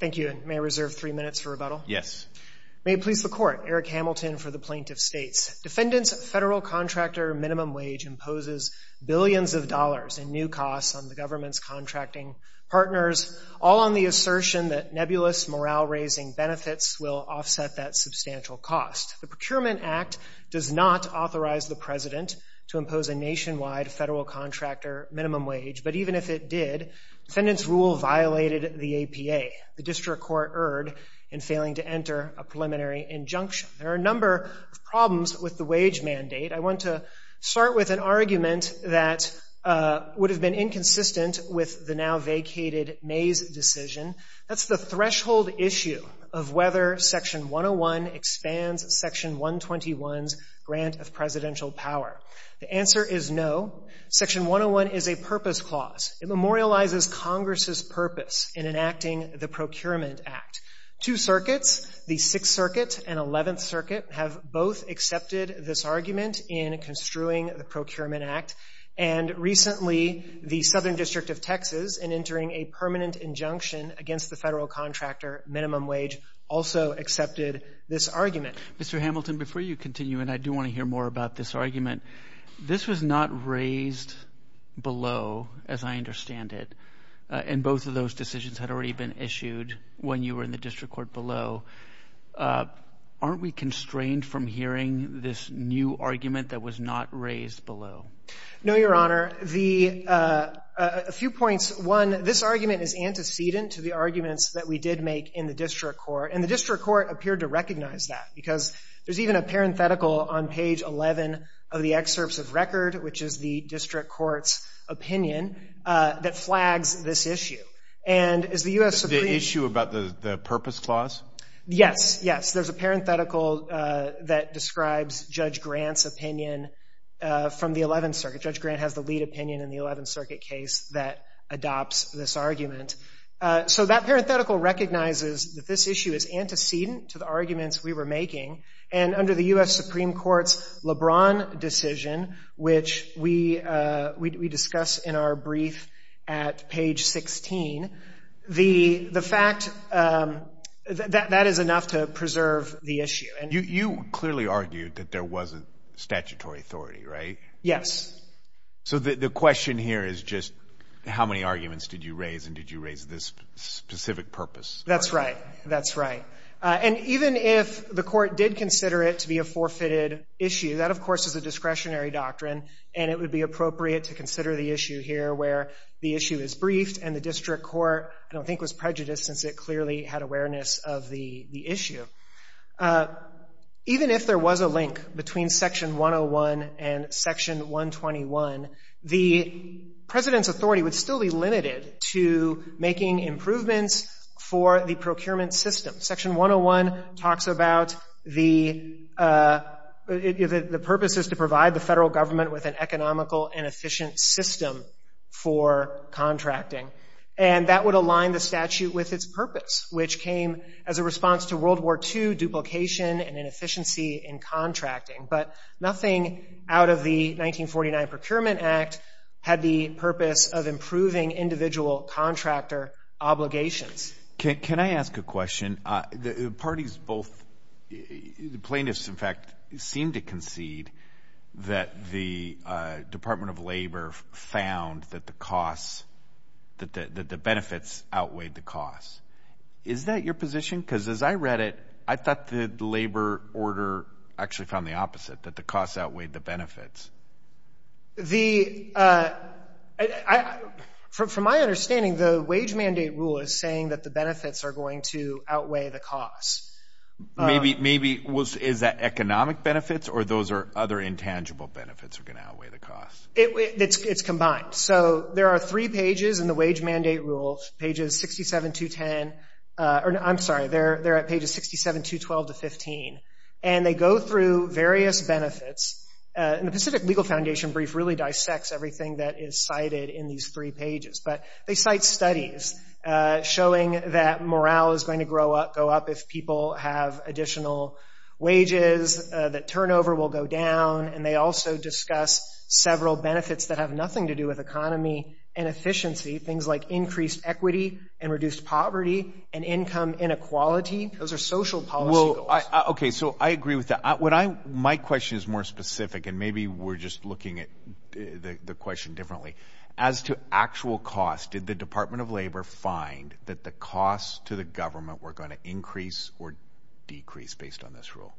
Thank you. May I reserve three minutes for rebuttal? Yes. May it please the Court, Eric Hamilton for the Plaintiff States. Defendants' Federal Contractor Minimum Wage imposes billions of dollars in new costs on the government's contracting partners, all on the assertion that nebulous morale-raising benefits will offset that substantial cost. The Procurement Act does not authorize the President to impose a nationwide Federal Contractor Minimum Wage, but even if it did, defendants' rule violated the APA, the district court erred in failing to enter a preliminary injunction. There are a number of problems with the wage mandate. I want to start with an argument that would have been inconsistent with the now vacated Mays decision. That's the threshold issue of whether Section 101 expands Section 121's grant of presidential power. The answer is no. Section 101 is a purpose clause. It memorializes Congress's purpose in enacting the Procurement Act. Two circuits, the Sixth Circuit and Eleventh Circuit, have both accepted this argument in construing the Procurement Act. And recently, the Southern District of Texas, in entering a permanent injunction against the Federal Contractor Minimum Wage, also accepted this argument. But, Mr. Hamilton, before you continue, and I do want to hear more about this argument, this was not raised below, as I understand it, and both of those decisions had already been issued when you were in the district court below. Aren't we constrained from hearing this new argument that was not raised below? No, Your Honor. A few points. One, this argument is antecedent to the arguments that we did make in the district court, and the district court appeared to recognize that because there's even a parenthetical on page 11 of the excerpts of record, which is the district court's opinion, that flags this issue. And is the U.S. Supreme— The issue about the purpose clause? Yes, yes. There's a parenthetical that describes Judge Grant's opinion from the Eleventh Circuit. Judge Grant has the lead opinion in the Eleventh Circuit case that adopts this argument. So that parenthetical recognizes that this issue is antecedent to the arguments we were making, and under the U.S. Supreme Court's LeBron decision, which we discuss in our brief at page 16, the fact that that is enough to preserve the issue. You clearly argued that there was a statutory authority, right? Yes. So the question here is just how many arguments did you raise, and did you raise this specific purpose? That's right. That's right. And even if the court did consider it to be a forfeited issue, that, of course, is a discretionary doctrine, and it would be appropriate to consider the issue here where the issue is briefed and the district court, I don't think, was prejudiced since it clearly had awareness of the issue. Even if there was a link between Section 101 and Section 121, the president's authority would still be limited to making improvements for the procurement system. Section 101 talks about the purpose is to provide the federal government with an economical and efficient system for contracting, and that would align the statute with its purpose, which came as a response to World War II duplication and inefficiency in contracting. But nothing out of the 1949 Procurement Act had the purpose of improving individual contractor obligations. Can I ask a question? The parties both, the plaintiffs, in fact, seemed to concede that the Department of Labor found that the costs, that the benefits outweighed the costs. Is that your position? Because as I read it, I thought the labor order actually found the opposite, that the costs outweighed the benefits. From my understanding, the wage mandate rule is saying that the benefits are going to outweigh the costs. Maybe. Is that economic benefits, or those are other intangible benefits are going to outweigh the costs? It's combined. So there are three pages in the wage mandate rule, pages 67 to 10. I'm sorry, they're at pages 67 to 12 to 15, and they go through various benefits. And the Pacific Legal Foundation brief really dissects everything that is cited in these three pages. But they cite studies showing that morale is going to go up if people have additional wages, that turnover will go down, and they also discuss several benefits that have nothing to do with economy and efficiency, things like increased equity and reduced poverty and income inequality. Those are social policy goals. Okay, so I agree with that. My question is more specific, and maybe we're just looking at the question differently. As to actual costs, did the Department of Labor find that the costs to the government were going to increase or decrease based on this rule?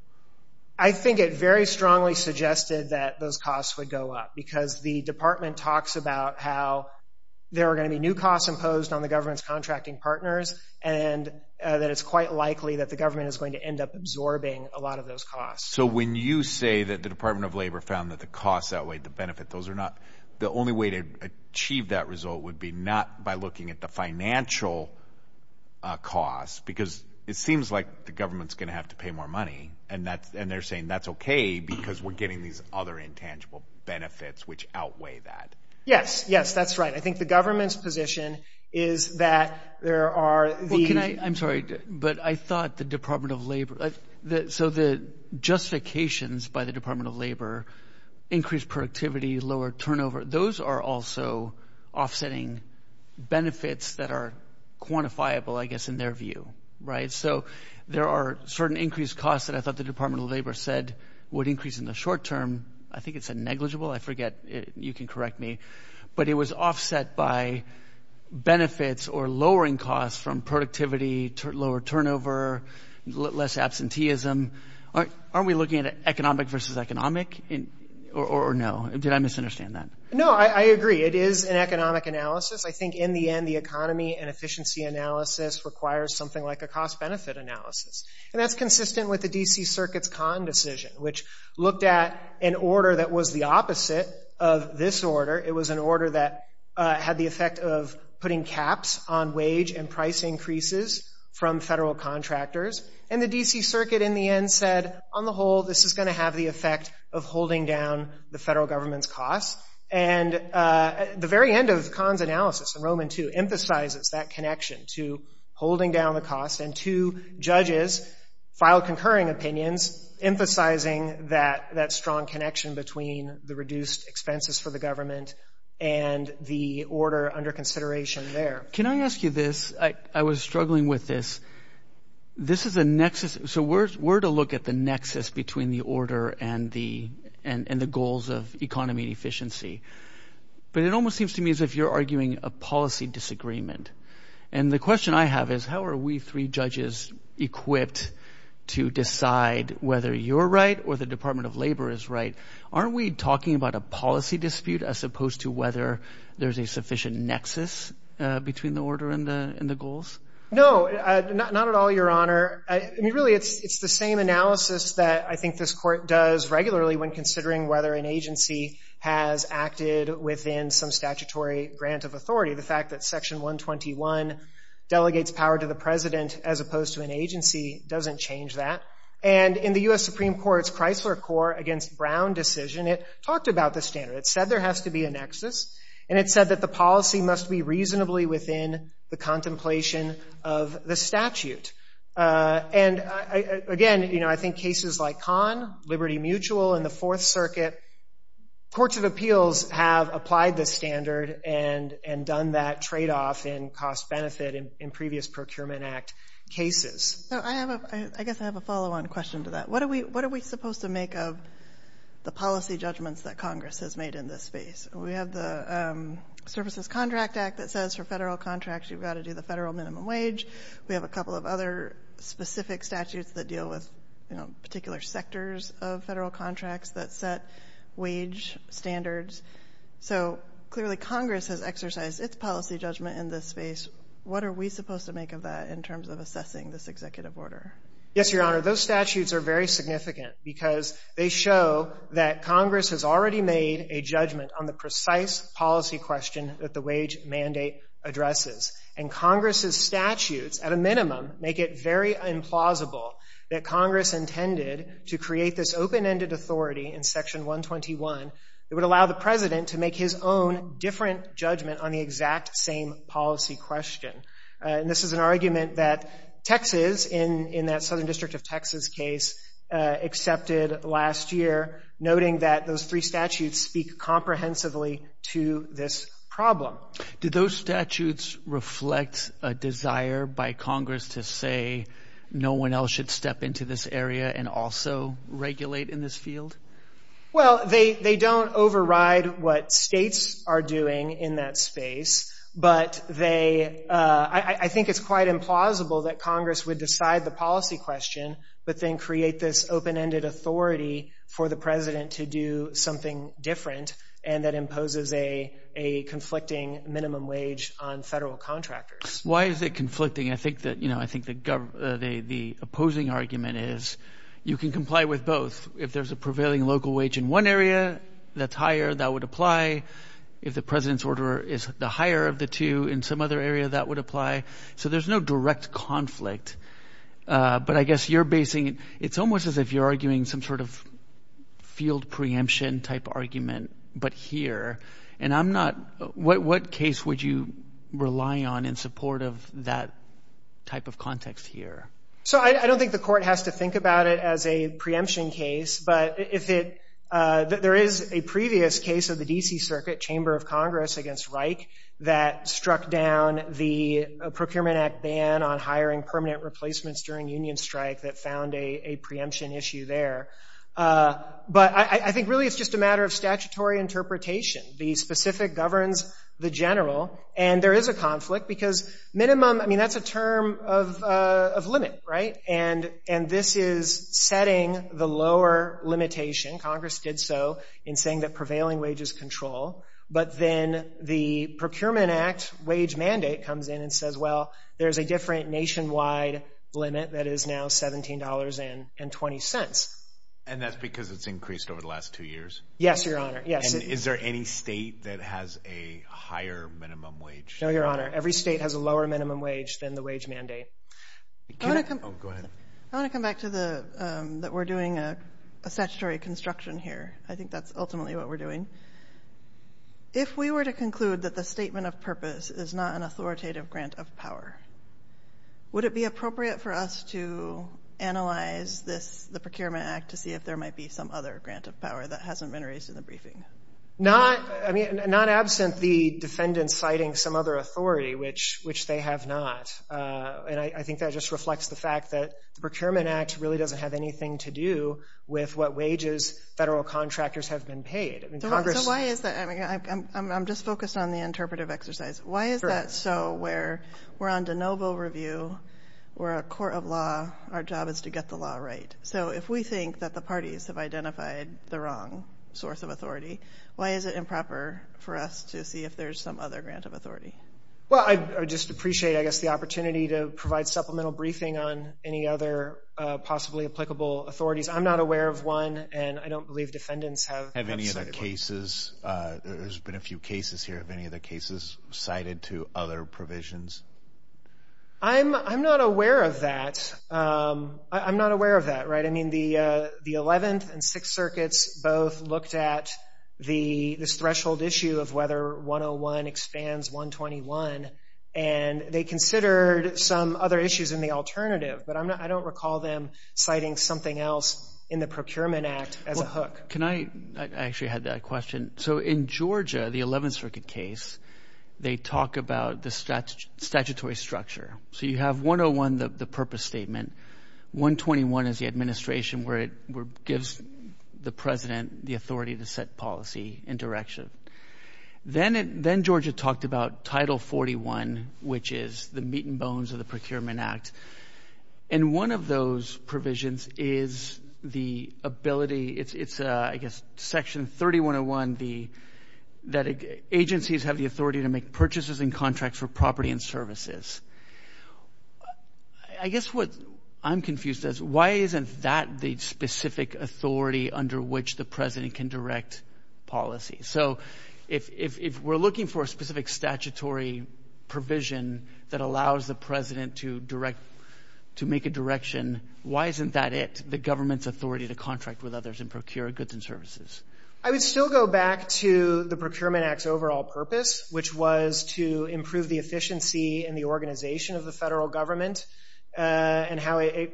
I think it very strongly suggested that those costs would go up, because the department talks about how there are going to be new costs imposed on the government's contracting partners, and that it's quite likely that the government is going to end up absorbing a lot of those costs. So when you say that the Department of Labor found that the costs outweighed the benefit, the only way to achieve that result would be not by looking at the financial costs, because it seems like the government's going to have to pay more money, and they're saying that's okay because we're getting these other intangible benefits which outweigh that. Yes, yes, that's right. I think the government's position is that there are the – I'm sorry, but I thought the Department of Labor – so the justifications by the Department of Labor, increased productivity, lower turnover, those are also offsetting benefits that are quantifiable, I guess, in their view, right? So there are certain increased costs that I thought the Department of Labor said would increase in the short term. I think it said negligible. I forget. You can correct me. But it was offset by benefits or lowering costs from productivity, lower turnover, less absenteeism. Aren't we looking at economic versus economic or no? Did I misunderstand that? No, I agree. It is an economic analysis. I think in the end, the economy and efficiency analysis requires something like a cost-benefit analysis, and that's consistent with the D.C. Circuit's Kahn decision, which looked at an order that was the opposite of this order. It was an order that had the effect of putting caps on wage and price increases from federal contractors. And the D.C. Circuit, in the end, said, on the whole, this is going to have the effect of holding down the federal government's costs. And the very end of Kahn's analysis, in Roman II, emphasizes that connection to holding down the costs. And two judges filed concurring opinions, emphasizing that strong connection between the reduced expenses for the government and the order under consideration there. Can I ask you this? I was struggling with this. This is a nexus. So we're to look at the nexus between the order and the goals of economy and efficiency. But it almost seems to me as if you're arguing a policy disagreement. And the question I have is, how are we three judges equipped to decide whether you're right or the Department of Labor is right? Aren't we talking about a policy dispute as opposed to whether there's a sufficient nexus between the order and the goals? No, not at all, Your Honor. I mean, really, it's the same analysis that I think this court does regularly when considering whether an agency has acted within some statutory grant of authority. The fact that Section 121 delegates power to the president as opposed to an agency doesn't change that. And in the U.S. Supreme Court's Chrysler Court against Brown decision, it talked about this standard. It said there has to be a nexus. And it said that the policy must be reasonably within the contemplation of the statute. And, again, you know, I think cases like Kahn, Liberty Mutual, and the Fourth Circuit, courts of appeals have applied this standard and done that tradeoff in cost-benefit in previous Procurement Act cases. So I guess I have a follow-on question to that. What are we supposed to make of the policy judgments that Congress has made in this space? We have the Services Contract Act that says for federal contracts you've got to do the federal minimum wage. We have a couple of other specific statutes that deal with, you know, particular sectors of federal contracts that set wage standards. So clearly Congress has exercised its policy judgment in this space. What are we supposed to make of that in terms of assessing this executive order? Yes, Your Honor. Those statutes are very significant because they show that Congress has already made a judgment on the precise policy question that the wage mandate addresses. And Congress's statutes, at a minimum, make it very implausible that Congress intended to create this open-ended authority in Section 121 that would allow the President to make his own different judgment on the exact same policy question. And this is an argument that Texas in that Southern District of Texas case accepted last year, noting that those three statutes speak comprehensively to this problem. Did those statutes reflect a desire by Congress to say no one else should step into this area and also regulate in this field? Well, they don't override what states are doing in that space, but I think it's quite implausible that Congress would decide the policy question but then create this open-ended authority for the President to do something different and that imposes a conflicting minimum wage on federal contractors. Why is it conflicting? I think the opposing argument is you can comply with both. If there's a prevailing local wage in one area, that's higher. That would apply. If the President's order is the higher of the two in some other area, that would apply. So there's no direct conflict. But I guess you're basing it. It's almost as if you're arguing some sort of field preemption-type argument, but here. And I'm not. What case would you rely on in support of that type of context here? So I don't think the court has to think about it as a preemption case, but there is a previous case of the D.C. Circuit Chamber of Congress against Reich that struck down the Procurement Act ban on hiring permanent replacements during union strike that found a preemption issue there. But I think really it's just a matter of statutory interpretation. The specific governs the general, and there is a conflict because minimum, I mean, that's a term of limit, right? And this is setting the lower limitation. Congress did so in saying that prevailing wages control. But then the Procurement Act wage mandate comes in and says, well, there's a different nationwide limit that is now $17.20. And that's because it's increased over the last two years? Yes, Your Honor, yes. And is there any state that has a higher minimum wage? No, Your Honor. Every state has a lower minimum wage than the wage mandate. Go ahead. I want to come back to that we're doing a statutory construction here. I think that's ultimately what we're doing. If we were to conclude that the statement of purpose is not an authoritative grant of power, would it be appropriate for us to analyze this, the Procurement Act, to see if there might be some other grant of power that hasn't been raised in the briefing? Not absent the defendant citing some other authority, which they have not. And I think that just reflects the fact that the Procurement Act really doesn't have anything to do with what wages federal contractors have been paid. So why is that? I'm just focused on the interpretive exercise. Why is that so where we're on de novo review, we're a court of law, our job is to get the law right? So if we think that the parties have identified the wrong source of authority, why is it improper for us to see if there's some other grant of authority? Well, I just appreciate, I guess, the opportunity to provide supplemental briefing on any other possibly applicable authorities. I'm not aware of one, and I don't believe defendants have cited one. Have any other cases, there's been a few cases here, have any other cases cited to other provisions? I'm not aware of that. I'm not aware of that, right? I mean, the Eleventh and Sixth Circuits both looked at this threshold issue of whether 101 expands 121, and they considered some other issues in the alternative. But I don't recall them citing something else in the Procurement Act as a hook. I actually had that question. So in Georgia, the Eleventh Circuit case, they talk about the statutory structure. So you have 101, the purpose statement. 121 is the administration where it gives the president the authority to set policy and direction. Then Georgia talked about Title 41, which is the meat and bones of the Procurement Act. And one of those provisions is the ability, it's, I guess, Section 3101, that agencies have the authority to make purchases and contracts for property and services. I guess what I'm confused as to why isn't that the specific authority under which the president can direct policy? So if we're looking for a specific statutory provision that allows the president to direct, to make a direction, why isn't that it, the government's authority to contract with others and procure goods and services? I would still go back to the Procurement Act's overall purpose, which was to improve the efficiency and the organization of the federal government and how it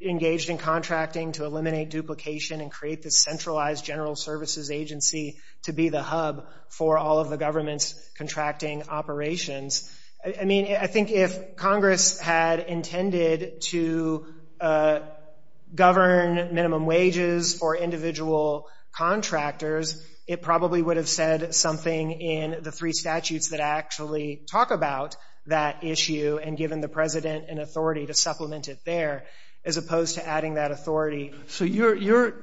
engaged in contracting to eliminate duplication and create this centralized general services agency to be the hub for all of the government's contracting operations. I mean, I think if Congress had intended to govern minimum wages for individual contractors, it probably would have said something in the three statutes that actually talk about that issue and given the president an authority to supplement it there, as opposed to adding that authority. So your,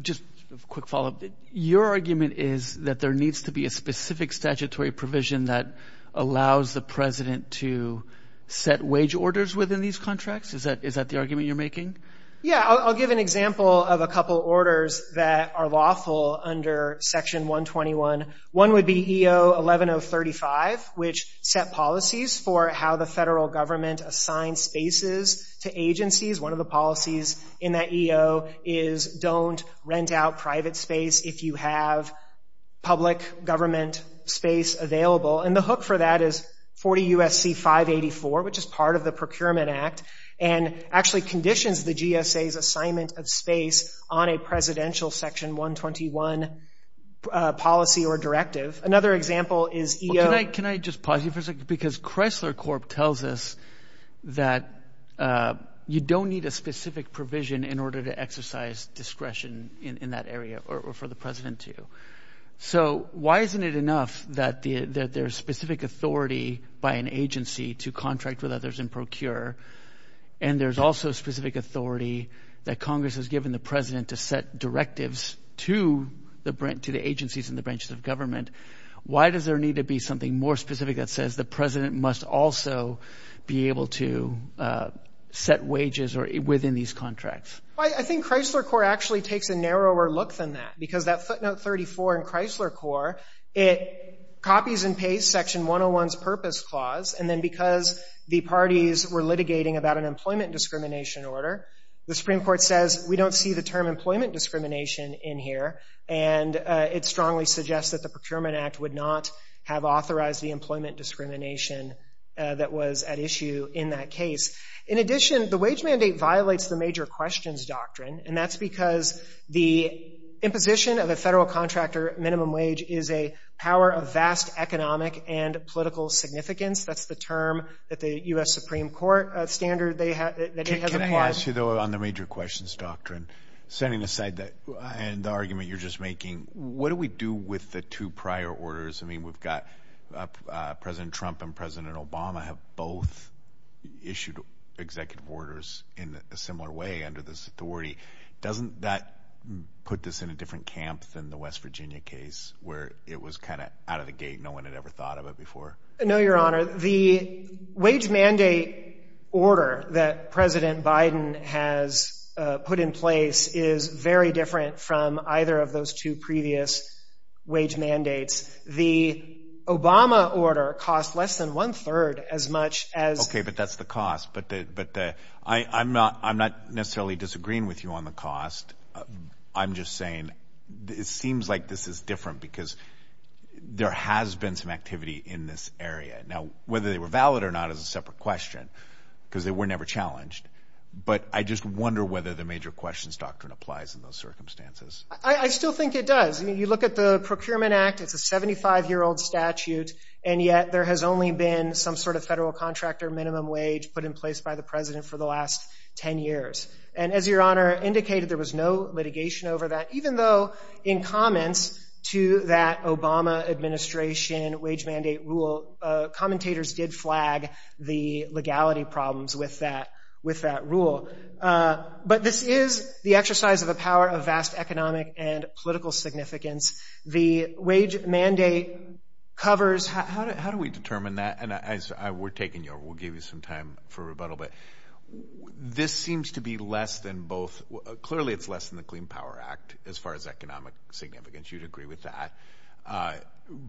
just a quick follow-up, your argument is that there needs to be a specific statutory provision that allows the president to set wage orders within these contracts? Is that the argument you're making? Yeah, I'll give an example of a couple orders that are lawful under Section 121. One would be EO 11035, which set policies for how the federal government assigned spaces to agencies. One of the policies in that EO is don't rent out private space if you have public government space available, and the hook for that is 40 U.S.C. 584, which is part of the Procurement Act and actually conditions the GSA's assignment of space on a presidential Section 121 policy or directive. Another example is EO- in order to exercise discretion in that area or for the president to. So why isn't it enough that there's specific authority by an agency to contract with others and procure, and there's also specific authority that Congress has given the president to set directives to the agencies and the branches of government, why does there need to be something more specific that says the president must also be able to set wages within these contracts? I think Chrysler Corp. actually takes a narrower look than that, because that footnote 34 in Chrysler Corp., it copies and pastes Section 101's purpose clause, and then because the parties were litigating about an employment discrimination order, the Supreme Court says we don't see the term employment discrimination in here, and it strongly suggests that the Procurement Act would not have authorized the employment discrimination that was at issue in that case. In addition, the wage mandate violates the major questions doctrine, and that's because the imposition of a federal contractor minimum wage is a power of vast economic and political significance. That's the term that the U.S. Supreme Court standard that it has applied. I want to ask you, though, on the major questions doctrine, setting aside the argument you're just making, what do we do with the two prior orders? I mean, we've got President Trump and President Obama have both issued executive orders in a similar way under this authority. Doesn't that put this in a different camp than the West Virginia case, where it was kind of out of the gate, no one had ever thought of it before? No, Your Honor. The wage mandate order that President Biden has put in place is very different from either of those two previous wage mandates. The Obama order cost less than one-third as much as... Okay, but that's the cost. But I'm not necessarily disagreeing with you on the cost. I'm just saying it seems like this is different because there has been some activity in this area. Now, whether they were valid or not is a separate question because they were never challenged, but I just wonder whether the major questions doctrine applies in those circumstances. I still think it does. I mean, you look at the Procurement Act, it's a 75-year-old statute, and yet there has only been some sort of federal contractor minimum wage put in place by the President for the last 10 years. And as Your Honor indicated, there was no litigation over that, even though in comments to that Obama administration wage mandate rule, commentators did flag the legality problems with that rule. But this is the exercise of the power of vast economic and political significance. The wage mandate covers... How do we determine that? And we're taking you over. We'll give you some time for rebuttal. But this seems to be less than both... Clearly it's less than the Clean Power Act as far as economic significance. You'd agree with that.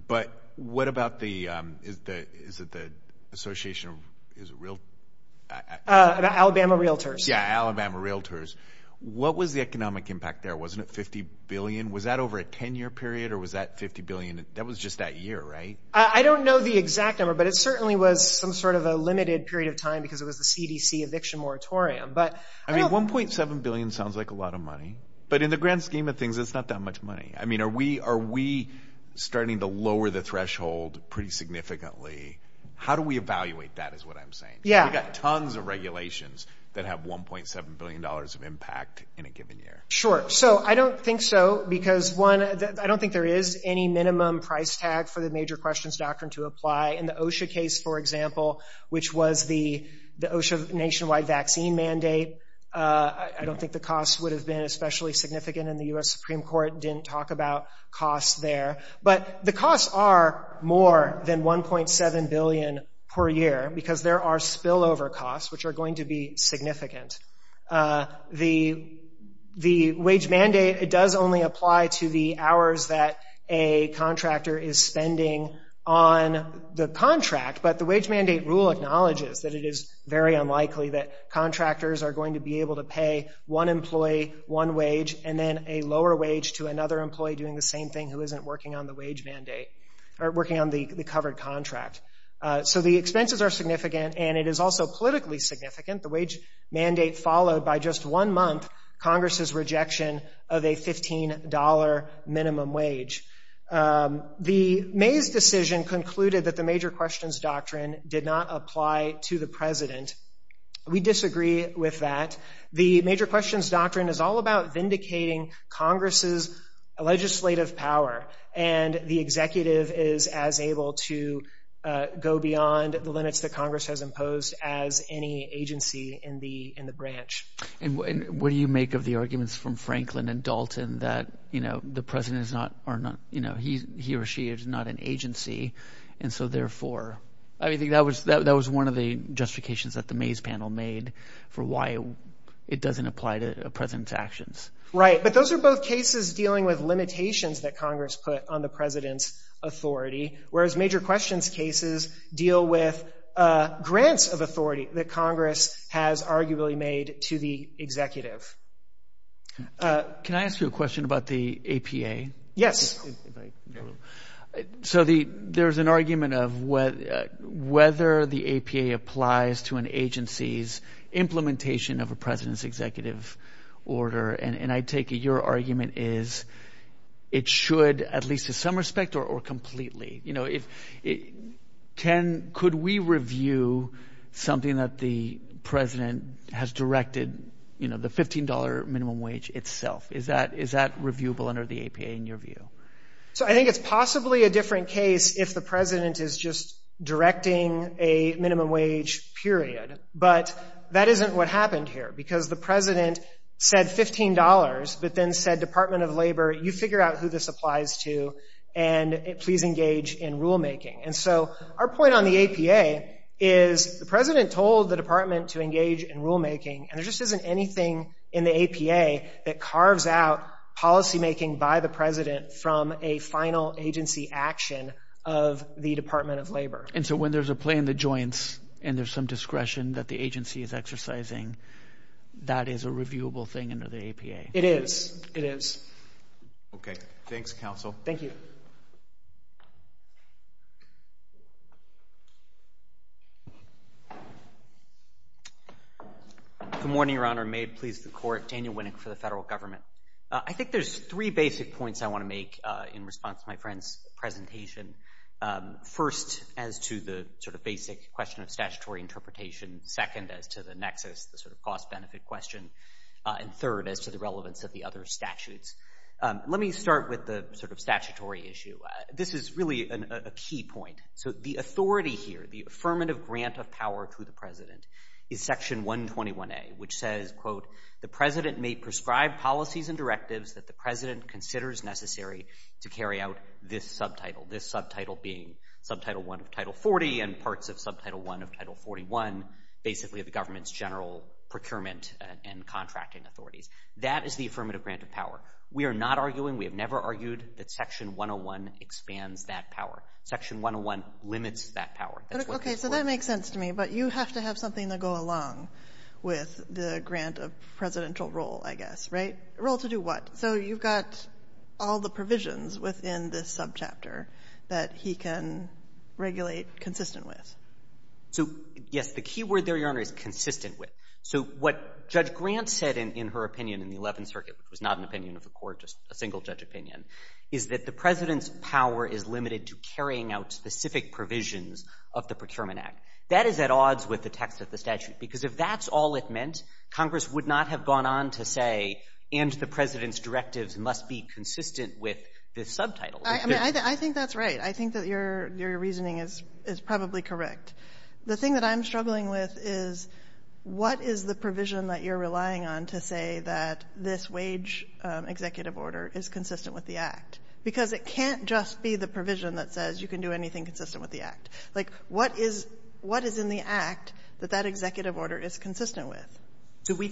But what about the... Is it the Association of... Alabama Realtors. Yeah, Alabama Realtors. What was the economic impact there? Wasn't it $50 billion? Was that over a 10-year period or was that $50 billion? That was just that year, right? I don't know the exact number, but it certainly was some sort of a limited period of time because it was the CDC eviction moratorium. $1.7 billion sounds like a lot of money, but in the grand scheme of things, it's not that much money. Are we starting to lower the threshold pretty significantly? How do we evaluate that is what I'm saying. We've got tons of regulations that have $1.7 billion of impact in a given year. Sure. I don't think so because, one, I don't think there is any minimum price tag for the major questions doctrine to apply in the OSHA case, for example, which was the OSHA nationwide vaccine mandate. I don't think the cost would have been especially significant and the U.S. Supreme Court didn't talk about cost there. But the costs are more than $1.7 billion per year because there are spillover costs, which are going to be significant. The wage mandate, it does only apply to the hours that a contractor is spending on the contract, but the wage mandate rule acknowledges that it is very unlikely that contractors are going to be able to pay one employee one wage and then a lower wage to another employee doing the same thing who isn't working on the covered contract. So the expenses are significant, and it is also politically significant. The wage mandate followed by just one month, Congress's rejection of a $15 minimum wage. The Mays decision concluded that the major questions doctrine did not apply to the president. We disagree with that. The major questions doctrine is all about vindicating Congress's legislative power, and the executive is as able to go beyond the limits that Congress has imposed as any agency in the branch. And what do you make of the arguments from Franklin and Dalton that the president is not, he or she is not an agency, and so therefore I think that was one of the justifications that the Mays panel made for why it doesn't apply to a president's actions. Right, but those are both cases dealing with limitations that Congress put on the president's authority, whereas major questions cases deal with grants of authority that Congress has arguably made to the executive. Can I ask you a question about the APA? Yes. So there's an argument of whether the APA applies to an agency's implementation of a president's executive order, and I take it your argument is it should at least in some respect or completely. Ken, could we review something that the president has directed, you know, the $15 minimum wage itself? Is that reviewable under the APA in your view? So I think it's possibly a different case if the president is just directing a minimum wage period, but that isn't what happened here, because the president said $15, but then said Department of Labor, you figure out who this applies to, and please engage in rulemaking. And so our point on the APA is the president told the department to engage in rulemaking, and there just isn't anything in the APA that carves out policymaking by the president from a final agency action of the Department of Labor. And so when there's a play in the joints and there's some discretion that the agency is exercising, that is a reviewable thing under the APA? It is. It is. Okay. Thanks, counsel. Thank you. Good morning, Your Honor. May it please the court, Daniel Winnick for the federal government. I think there's three basic points I want to make in response to my friend's presentation. First, as to the sort of basic question of statutory interpretation. Second, as to the nexus, the sort of cost-benefit question. And third, as to the relevance of the other statutes. Let me start with the sort of statutory issue. This is really a key point. So the authority here, the affirmative grant of power to the president, is Section 121A, which says, quote, the president may prescribe policies and directives that the president considers necessary to carry out this subtitle. This subtitle being Subtitle 1 of Title 40 and parts of Subtitle 1 of Title 41, basically the government's general procurement and contracting authorities. That is the affirmative grant of power. We are not arguing, we have never argued, that Section 101 expands that power. Section 101 limits that power. Okay, so that makes sense to me, but you have to have something to go along with the grant of presidential role, I guess, right? A role to do what? So you've got all the provisions within this subchapter that he can regulate consistent with. So, yes, the key word there, Your Honor, is consistent with. So what Judge Grant said in her opinion in the Eleventh Circuit, which was not an opinion of the court, just a single judge opinion, is that the president's power is limited to carrying out specific provisions of the Procurement Act. That is at odds with the text of the statute, because if that's all it meant, Congress would not have gone on to say, and the president's directives must be consistent with this subtitle. I mean, I think that's right. I think that your reasoning is probably correct. The thing that I'm struggling with is what is the provision that you're relying on to say that this wage executive order is consistent with the Act? Because it can't just be the provision that says you can do anything consistent with the Act. Like, what is in the Act that that executive order is consistent with? I mean,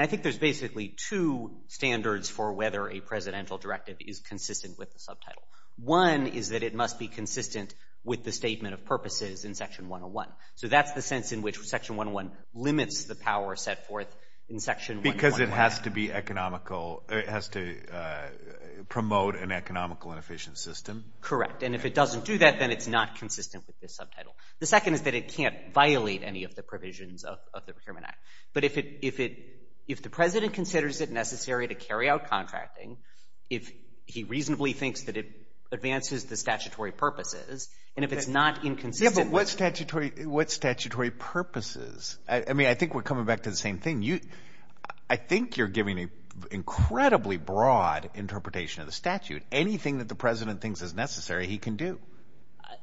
I think there's basically two standards for whether a presidential directive is consistent with the subtitle. One is that it must be consistent with the statement of purposes in Section 101. So that's the sense in which Section 101 limits the power set forth in Section 101. Because it has to be economical. It has to promote an economical and efficient system. Correct, and if it doesn't do that, then it's not consistent with this subtitle. The second is that it can't violate any of the provisions of the Procurement Act. But if the president considers it necessary to carry out contracting, if he reasonably thinks that it advances the statutory purposes, and if it's not inconsistent with... Yeah, but what statutory purposes? I mean, I think we're coming back to the same thing. I think you're giving an incredibly broad interpretation of the statute. Anything that the president thinks is necessary, he can do.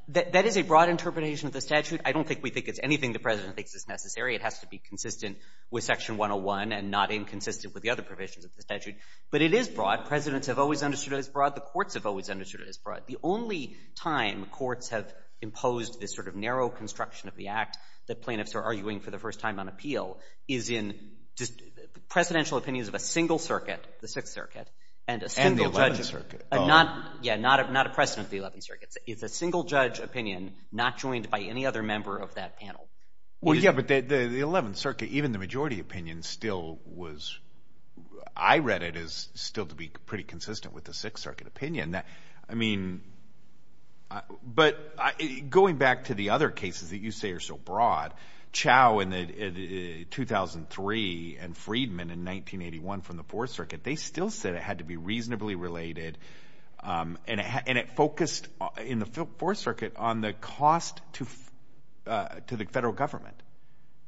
That is a broad interpretation of the statute. I don't think we think it's anything the president thinks is necessary. It has to be consistent with Section 101 and not inconsistent with the other provisions of the statute. But it is broad. Presidents have always understood it as broad. The courts have always understood it as broad. The only time courts have imposed this sort of narrow construction of the Act that plaintiffs are arguing for the first time on appeal is in presidential opinions of a single circuit, the Sixth Circuit, and a single judge... And the Eleventh Circuit. Yeah, not a president of the Eleventh Circuit. It's a single judge opinion not joined by any other member of that panel. Well, yeah, but the Eleventh Circuit, even the majority opinion still was... I read it as still to be pretty consistent with the Sixth Circuit opinion. I mean... But going back to the other cases that you say are so broad, Chau in 2003 and Friedman in 1981 from the Fourth Circuit, they still said it had to be reasonably related. And it focused, in the Fourth Circuit, on the cost to the federal government.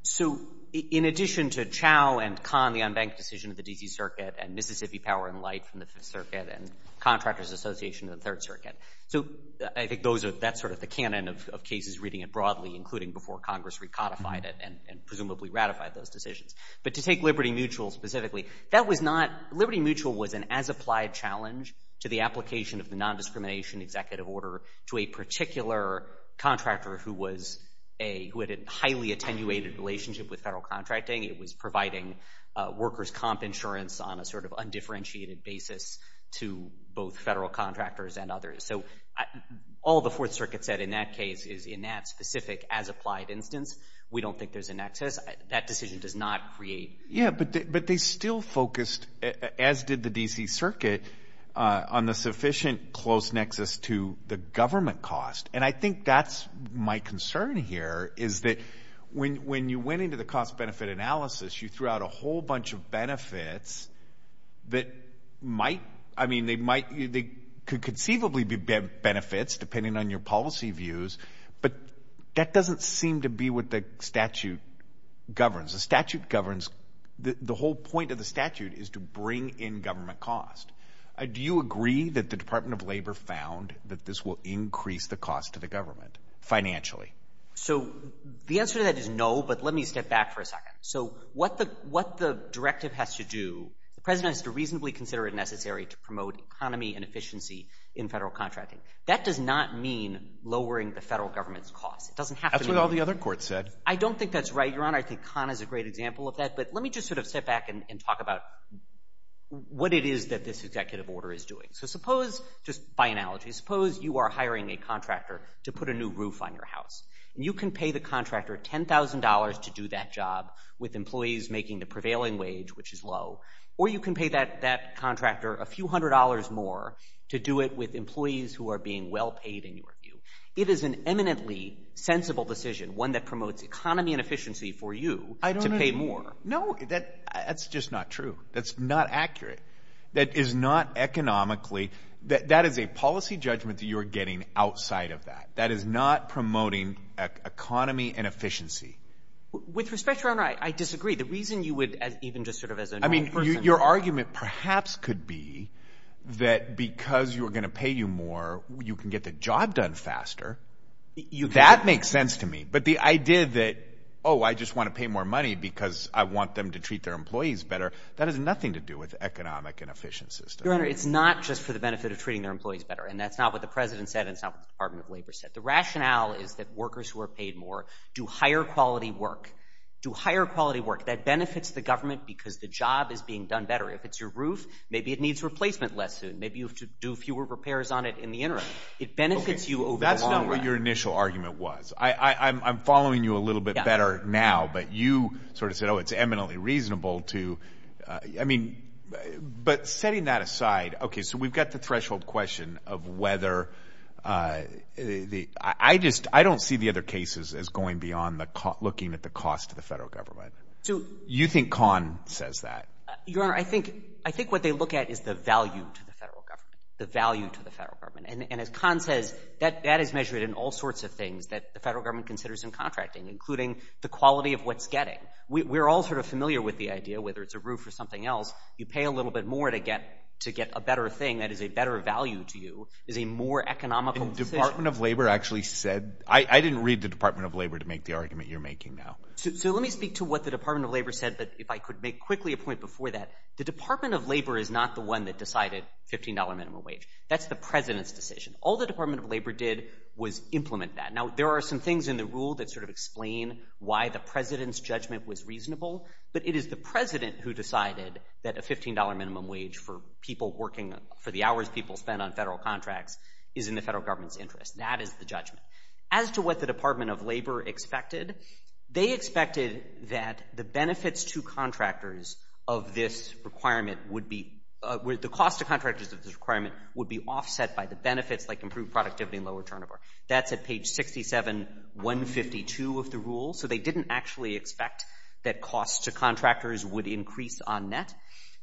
So in addition to Chau and Kahn, the unbanked decision of the D.C. Circuit, and Mississippi Power and Light from the Fifth Circuit and Contractors Association of the Third Circuit. So I think that's sort of the canon of cases reading it broadly, including before Congress recodified it and presumably ratified those decisions. But to take Liberty Mutual specifically, that was not... Liberty Mutual was an as-applied challenge to the application of the nondiscrimination executive order to a particular contractor who had a highly attenuated relationship with federal contracting. It was providing workers' comp insurance on a sort of undifferentiated basis to both federal contractors and others. So all the Fourth Circuit said in that case is in that specific as-applied instance, we don't think there's a nexus. That decision does not create... Yeah, but they still focused, as did the D.C. Circuit, on the sufficient close nexus to the government cost. And I think that's my concern here, is that when you went into the cost-benefit analysis, you threw out a whole bunch of benefits that might... I mean, they could conceivably be benefits, depending on your policy views, but that doesn't seem to be what the statute governs. The statute governs... The whole point of the statute is to bring in government cost. Do you agree that the Department of Labor found that this will increase the cost to the government financially? So the answer to that is no, but let me step back for a second. So what the directive has to do, the president has to reasonably consider it necessary to promote economy and efficiency in federal contracting. That does not mean lowering the federal government's cost. It doesn't have to be... I don't think that's right, Your Honor. I think Khan is a great example of that, but let me just sort of step back and talk about what it is that this executive order is doing. So suppose, just by analogy, suppose you are hiring a contractor to put a new roof on your house. You can pay the contractor $10,000 to do that job with employees making the prevailing wage, which is low, or you can pay that contractor a few hundred dollars more to do it with employees who are being well-paid, in your view. It is an eminently sensible decision, one that promotes economy and efficiency for you to pay more. I don't agree. No, that's just not true. That's not accurate. That is not economically... That is a policy judgment that you are getting outside of that. That is not promoting economy and efficiency. With respect, Your Honor, I disagree. The reason you would even just sort of as a normal person... I mean, your argument perhaps could be that because you are going to pay you more, you can get the job done faster. That makes sense to me. But the idea that, oh, I just want to pay more money because I want them to treat their employees better, that has nothing to do with economic and efficient systems. Your Honor, it's not just for the benefit of treating their employees better, and that's not what the President said and it's not what the Department of Labor said. The rationale is that workers who are paid more do higher-quality work. That benefits the government because the job is being done better. If it's your roof, maybe it needs replacement less soon. Maybe you have to do fewer repairs on it in the interim. It benefits you over the long run. That's not what your initial argument was. I'm following you a little bit better now, but you sort of said, oh, it's eminently reasonable to... I mean, but setting that aside, okay, so we've got the threshold question of whether... I don't see the other cases as going beyond looking at the cost to the federal government. You think Kahn says that. Your Honor, I think what they look at is the value to the federal government, and as Kahn says, that is measured in all sorts of things that the federal government considers in contracting, including the quality of what's getting. We're all sort of familiar with the idea, whether it's a roof or something else. You pay a little bit more to get a better thing that is a better value to you, is a more economical decision. The Department of Labor actually said... I didn't read the Department of Labor to make the argument you're making now. So let me speak to what the Department of Labor said, but if I could make quickly a point before that. The Department of Labor is not the one that decided $15 minimum wage. That's the president's decision. All the Department of Labor did was implement that. Now, there are some things in the rule that sort of explain why the president's judgment was reasonable, but it is the president who decided that a $15 minimum wage for people working... for the hours people spend on federal contracts is in the federal government's interest. That is the judgment. As to what the Department of Labor expected, they expected that the benefits to contractors of this requirement would be...the cost to contractors of this requirement would be offset by the benefits, like improved productivity and lower turnover. That's at page 67-152 of the rule. So they didn't actually expect that costs to contractors would increase on net.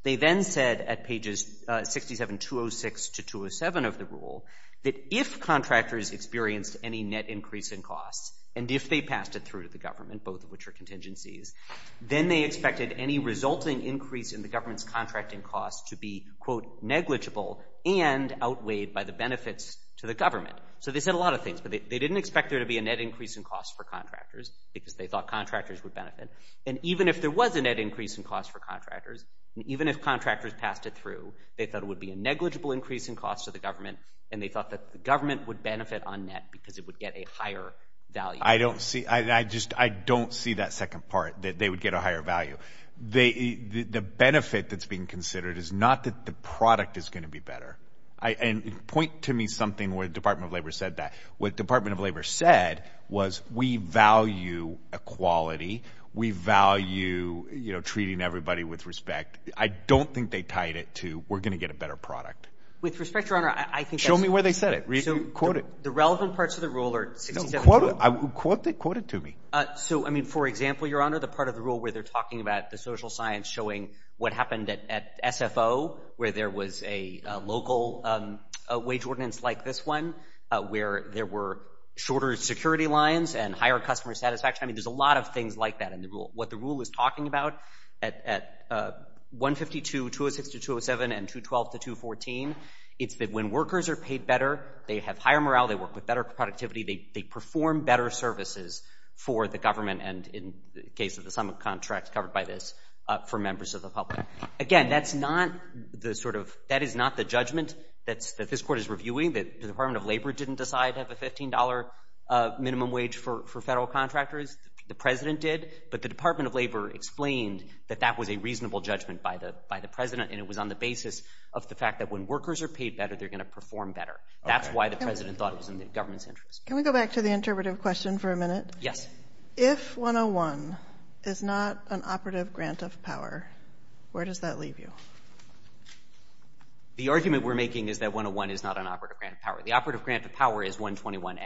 They then said at pages 67-206 to 207 of the rule that if contractors experienced any net increase in costs, and if they passed it through to the government, both of which are contingencies, then they expected any resulting increase in the government's contracting costs to be, quote, negligible and outweighed by the benefits to the government. So they said a lot of things, but they didn't expect there to be a net increase in costs for contractors because they thought contractors would benefit. And even if there was a net increase in costs for contractors, and even if contractors passed it through, they thought it would be a negligible increase in costs to the government, and they thought that the government would benefit on net because it would get a higher value. I don't see that second part, that they would get a higher value. The benefit that's being considered is not that the product is going to be better. And point to me something where the Department of Labor said that. What the Department of Labor said was, we value equality, we value treating everybody with respect. I don't think they tied it to, we're going to get a better product. With respect, Your Honor, I think that's... Show me where they said it. Quote it. The relevant parts of the rule are 67-206. Quote it to me. So, I mean, for example, Your Honor, the part of the rule where they're talking about the social science showing what happened at SFO, where there was a local wage ordinance like this one, where there were shorter security lines and higher customer satisfaction, I mean, there's a lot of things like that in the rule. What the rule is talking about at 152-206 to 207 and 212 to 214, it's that when workers are paid better, they have higher morale, they work with better productivity, they perform better services for the government, and in the case of the sum of contracts covered by this, for members of the public. Again, that's not the sort of... That is not the judgment that this court is reviewing. The Department of Labor didn't decide to have a $15 minimum wage for federal contractors. The president did, but the Department of Labor explained that that was a reasonable judgment by the president, and it was on the basis of the fact that when workers are paid better, they're going to perform better. That's why the president thought it was in the government's interest. Can we go back to the interpretive question for a minute? Yes. If 101 is not an operative grant of power, where does that leave you? The argument we're making is that 101 is not an operative grant of power. The operative grant of power is 121A.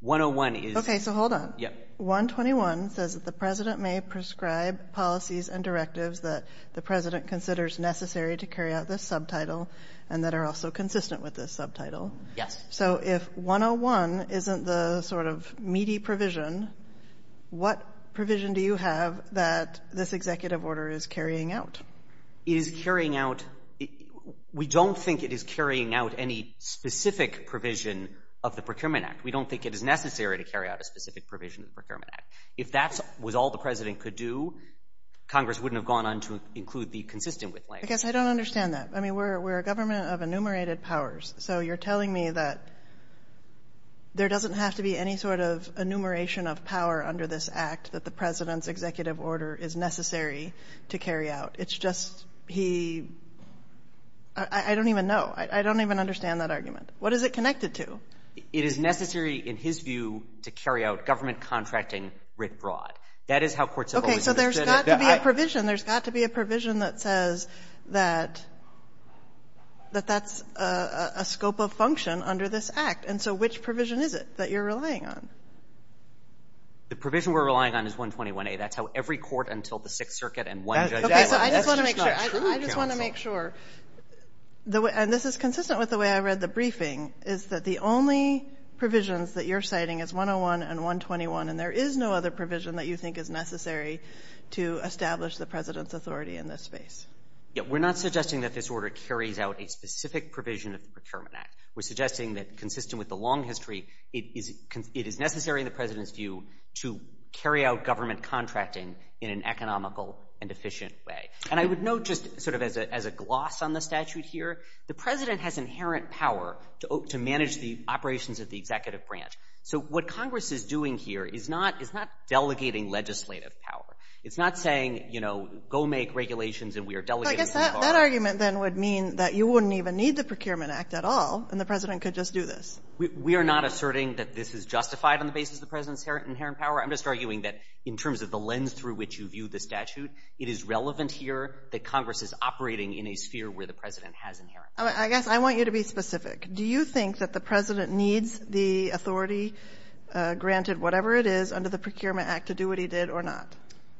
101 is... Okay, so hold on. Yep. 121 says that the president may prescribe policies and directives that the president considers necessary to carry out this subtitle and that are also consistent with this subtitle. Yes. So if 101 isn't the sort of meaty provision, what provision do you have that this executive order is carrying out? It is carrying out — we don't think it is carrying out any specific provision of the Procurement Act. We don't think it is necessary to carry out a specific provision of the Procurement Act. If that was all the president could do, Congress wouldn't have gone on to include the consistent with language. I guess I don't understand that. I mean, we're a government of enumerated powers. So you're telling me that there doesn't have to be any sort of enumeration of power under this act that the president's executive order is necessary to carry out. It's just he — I don't even know. I don't even understand that argument. What is it connected to? It is necessary, in his view, to carry out government contracting writ broad. That is how courts have always understood it. Okay, so there's got to be a provision. There's got to be a provision that says that that's a scope of function under this act. And so which provision is it that you're relying on? The provision we're relying on is 121A. That's how every court until the Sixth Circuit and one judge — Okay, so I just want to make sure. That's just not true, counsel. I just want to make sure. And this is consistent with the way I read the briefing, is that the only provisions that you're citing is 101 and 121, and there is no other provision that you think is necessary to establish the president's authority in this space. Yeah, we're not suggesting that this order carries out a specific provision of the Procurement Act. We're suggesting that, consistent with the long history, it is necessary, in the president's view, to carry out government contracting in an economical and efficient way. And I would note, just sort of as a gloss on the statute here, the president has inherent power to manage the operations of the executive branch. So what Congress is doing here is not delegating legislative power. It's not saying, you know, go make regulations and we are delegating some power. But I guess that argument then would mean that you wouldn't even need the Procurement Act at all, and the president could just do this. We are not asserting that this is justified on the basis of the president's inherent power. I'm just arguing that, in terms of the lens through which you view the statute, it is relevant here that Congress is operating in a sphere where the president has inherent power. I guess I want you to be specific. Do you think that the president needs the authority, granted whatever it is, under the Procurement Act to do what he did or not?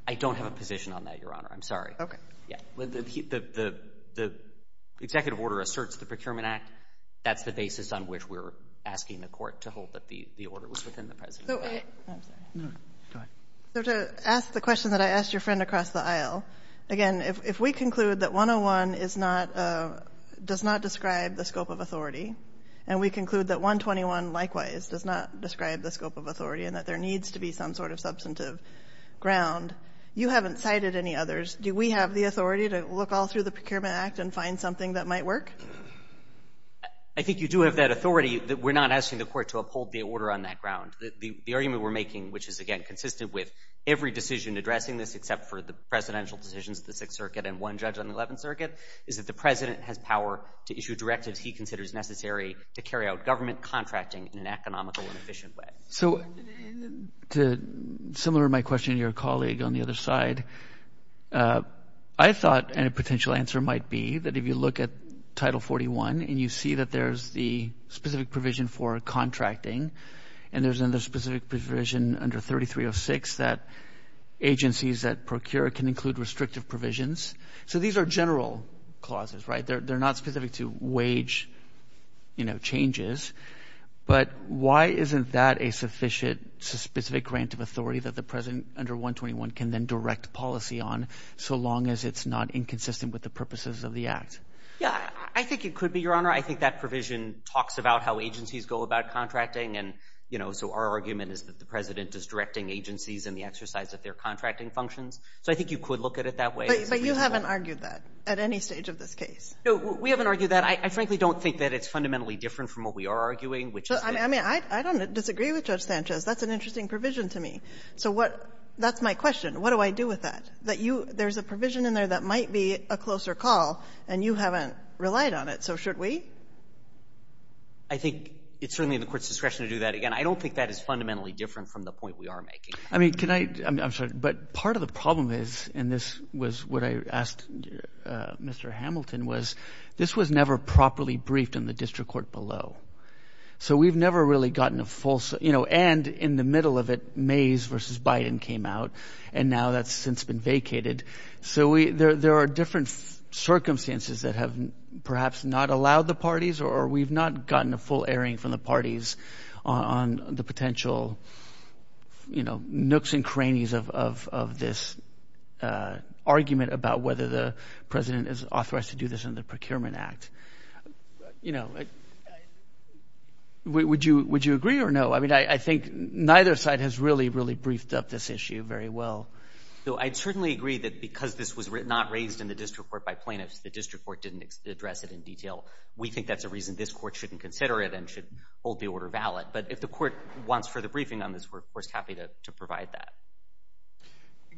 I don't have a position on that, Your Honor. I'm sorry. Okay. The executive order asserts the Procurement Act. That's the basis on which we're asking the court to hold that the order was within the president's power. I'm sorry. No, go ahead. So to ask the question that I asked your friend across the aisle, again, if we conclude that 101 does not describe the scope of authority and we conclude that 121, likewise, does not describe the scope of authority and that there needs to be some sort of substantive ground, you haven't cited any others. Do we have the authority to look all through the Procurement Act and find something that might work? I think you do have that authority. We're not asking the court to uphold the order on that ground. The argument we're making, which is, again, consistent with every decision addressing this except for the presidential decisions of the Sixth Circuit and one judge on the Eleventh Circuit, is that the president has power to issue directives he considers necessary to carry out government contracting in an economical and efficient way. So similar to my question to your colleague on the other side, I thought a potential answer might be that if you look at Title 41 and you see that there's the specific provision for contracting and there's another specific provision under 3306 that agencies that procure can include restrictive provisions. So these are general clauses, right? They're not specific to wage changes. But why isn't that a sufficient specific grant of authority that the president under 121 can then direct policy on so long as it's not inconsistent with the purposes of the Act? Yeah, I think it could be, Your Honor. I think that provision talks about how agencies go about contracting. And, you know, so our argument is that the president is directing agencies in the exercise of their contracting functions. So I think you could look at it that way. But you haven't argued that at any stage of this case. No, we haven't argued that. I frankly don't think that it's fundamentally different from what we are arguing, which is that — I mean, I don't disagree with Judge Sanchez. That's an interesting provision to me. So what — that's my question. What do I do with that? That you — there's a provision in there that might be a closer call, and you haven't relied on it. So should we? I think it's certainly in the court's discretion to do that. Again, I don't think that is fundamentally different from the point we are making. I mean, can I — I'm sorry, but part of the problem is, and this was what I asked Mr. Hamilton, was this was never properly briefed in the district court below. So we've never really gotten a full — you know, and in the middle of it, Mays v. Biden came out, and now that's since been vacated. So there are different circumstances that have perhaps not allowed the parties, or we've not gotten a full airing from the parties on the potential, you know, nooks and crannies of this argument about whether the president is authorized to do this under the Procurement Act. You know, would you agree or no? I mean, I think neither side has really, really briefed up this issue very well. So I'd certainly agree that because this was not raised in the district court by plaintiffs, the district court didn't address it in detail. We think that's a reason this court shouldn't consider it and should hold the order valid. But if the court wants further briefing on this, we're, of course, happy to provide that.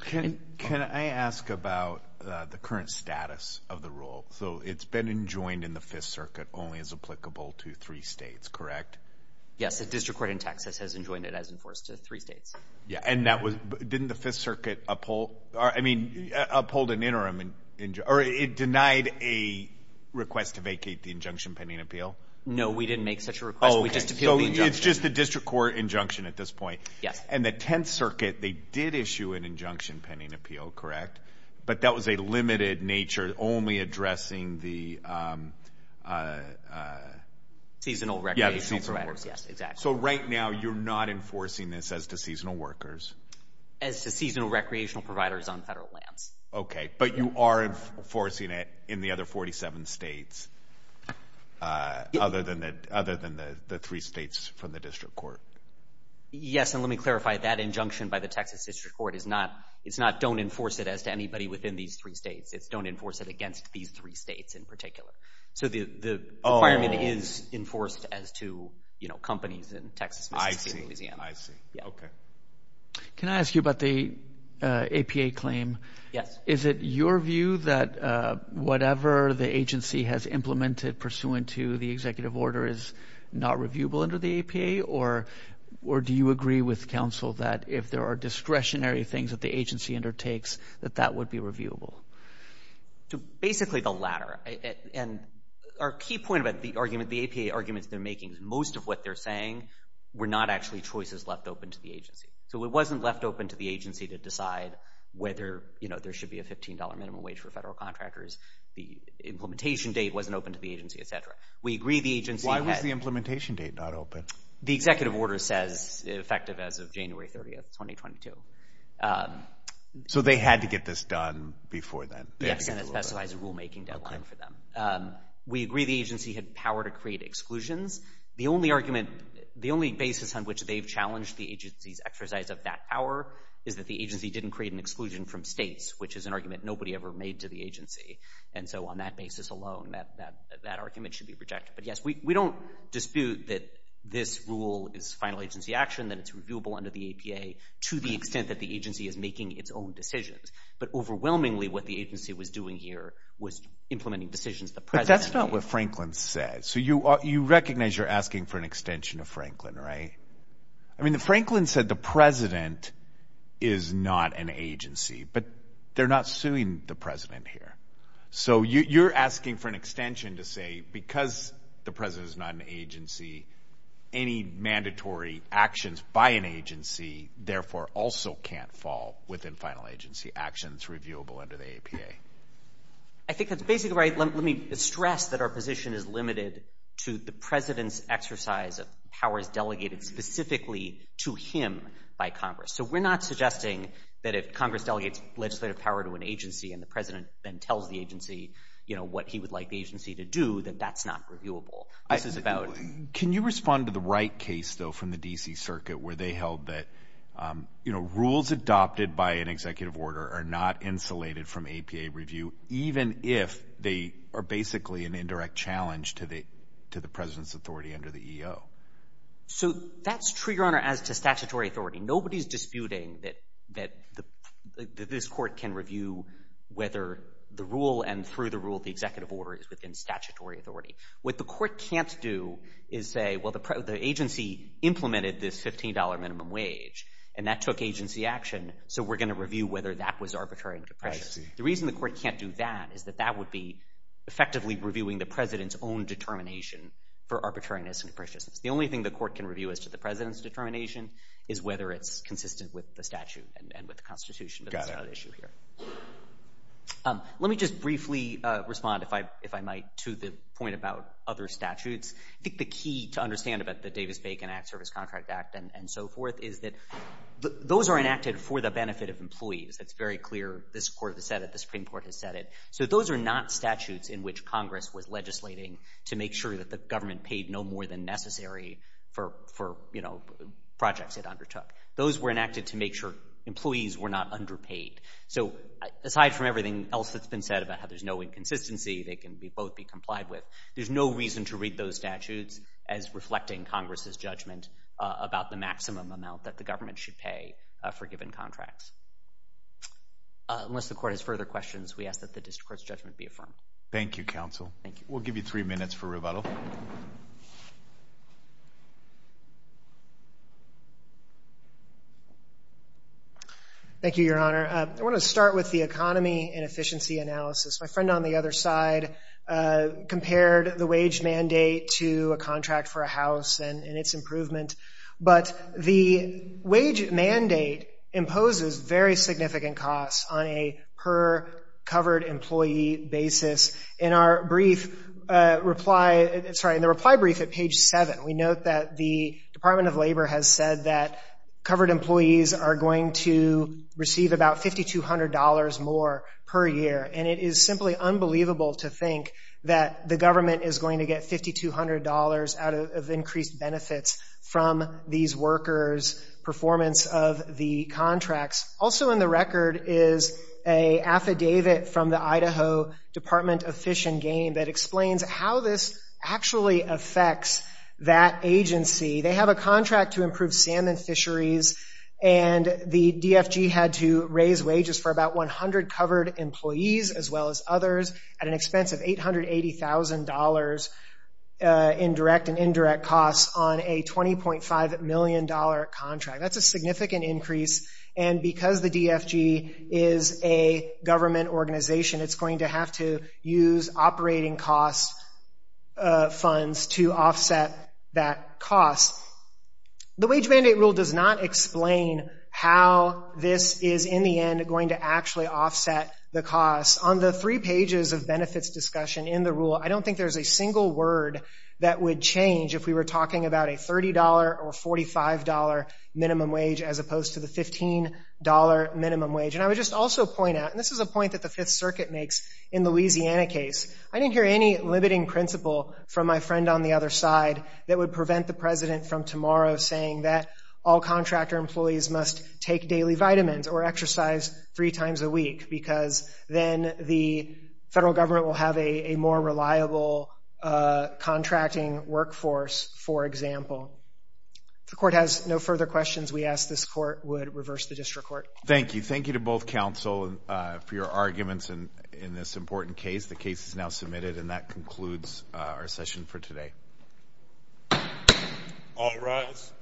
Can I ask about the current status of the rule? So it's been enjoined in the Fifth Circuit only as applicable to three states, correct? Yes, the district court in Texas has enjoined it as enforced to three states. Yeah, and didn't the Fifth Circuit uphold an interim injunction or it denied a request to vacate the injunction pending appeal? No, we didn't make such a request. We just appealed the injunction. So it's just a district court injunction at this point. Yes. And the Tenth Circuit, they did issue an injunction pending appeal, correct? But that was a limited nature, only addressing the seasonal recreational parameters. Yeah, the seasonal records. Yes, exactly. So right now you're not enforcing this as to seasonal workers? As to seasonal recreational providers on federal lands. Okay, but you are enforcing it in the other 47 states other than the three states from the district court? Yes, and let me clarify. That injunction by the Texas district court is not don't enforce it as to anybody within these three states. It's don't enforce it against these three states in particular. So the requirement is enforced as to companies in Texas, Mississippi, and Louisiana. I see. Okay. Can I ask you about the APA claim? Yes. Is it your view that whatever the agency has implemented pursuant to the executive order is not reviewable under the APA? Or do you agree with counsel that if there are discretionary things that the agency undertakes, that that would be reviewable? Basically the latter. Our key point about the APA arguments they're making is most of what they're saying were not actually choices left open to the agency. So it wasn't left open to the agency to decide whether there should be a $15 minimum wage for federal contractors. The implementation date wasn't open to the agency, et cetera. Why was the implementation date not open? The executive order says effective as of January 30, 2022. So they had to get this done before then. Yes, and it specifies a rulemaking deadline for them. We agree the agency had power to create exclusions. The only argument, the only basis on which they've challenged the agency's exercise of that power is that the agency didn't create an exclusion from states, which is an argument nobody ever made to the agency. And so on that basis alone, that argument should be rejected. But, yes, we don't dispute that this rule is final agency action, that it's reviewable under the APA to the extent that the agency is making its own decisions. But overwhelmingly what the agency was doing here was implementing decisions the president made. But that's not what Franklin said. So you recognize you're asking for an extension of Franklin, right? I mean, Franklin said the president is not an agency, but they're not suing the president here. So you're asking for an extension to say because the president is not an agency, any mandatory actions by an agency, therefore, also can't fall within final agency actions, reviewable under the APA. I think that's basically right. Let me stress that our position is limited to the president's exercise of powers delegated specifically to him by Congress. So we're not suggesting that if Congress delegates legislative power to an agency and the president then tells the agency, you know, what he would like the agency to do, that that's not reviewable. Can you respond to the Wright case, though, from the D.C. Circuit where they held that, you know, rules adopted by an executive order are not insulated from APA review, even if they are basically an indirect challenge to the president's authority under the EO? So that's true, Your Honor, as to statutory authority. Nobody is disputing that this court can review whether the rule and through the rule the executive order is within statutory authority. What the court can't do is say, well, the agency implemented this $15 minimum wage and that took agency action, so we're going to review whether that was arbitrary and capricious. I see. The reason the court can't do that is that that would be effectively reviewing the president's own determination for arbitrariness and capriciousness. The only thing the court can review as to the president's determination is whether it's consistent with the statute and with the Constitution, but that's not an issue here. Let me just briefly respond, if I might, to the point about other statutes. I think the key to understand about the Davis-Bacon Act, Service Contract Act, and so forth, is that those are enacted for the benefit of employees. That's very clear. This court has said it. The Supreme Court has said it. So those are not statutes in which Congress was legislating to make sure that the government paid no more than necessary for, you know, projects it undertook. Those were enacted to make sure employees were not underpaid. So aside from everything else that's been said about how there's no inconsistency, they can both be complied with, there's no reason to read those statutes as reflecting Congress's judgment about the maximum amount that the government should pay for given contracts. Unless the court has further questions, we ask that the district court's judgment be affirmed. Thank you, counsel. We'll give you three minutes for rebuttal. Thank you, Your Honor. I want to start with the economy and efficiency analysis. My friend on the other side compared the wage mandate to a contract for a house and its improvement. But the wage mandate imposes very significant costs on a per-covered employee basis. In our brief reply, sorry, in the reply brief at page 7, we note that the Department of Labor has said that covered employees are going to receive about $5,200 more per year. And it is simply unbelievable to think that the government is going to get $5,200 out of increased benefits from these workers' performance of the contracts. Also in the record is an affidavit from the Idaho Department of Fish and Game that explains how this actually affects that agency. They have a contract to improve salmon fisheries, and the DFG had to raise wages for about 100 covered employees as well as others at an expense of $880,000 in direct and indirect costs on a $20.5 million contract. That's a significant increase, and because the DFG is a government organization, it's going to have to use operating cost funds to offset that cost. The wage mandate rule does not explain how this is in the end going to actually offset the cost. On the three pages of benefits discussion in the rule, I don't think there's a single word that would change if we were talking about a $30 or $45 minimum wage as opposed to the $15 minimum wage. And I would just also point out, and this is a point that the Fifth Circuit makes in the Louisiana case, I didn't hear any limiting principle from my friend on the other side that would prevent the president from tomorrow saying that all contractor employees must take daily vitamins or exercise three times a week because then the federal government will have a more reliable contracting workforce, for example. If the court has no further questions, we ask this court would reverse the district court. Thank you. Thank you to both counsel for your arguments in this important case. The case is now submitted, and that concludes our session for today. All rise.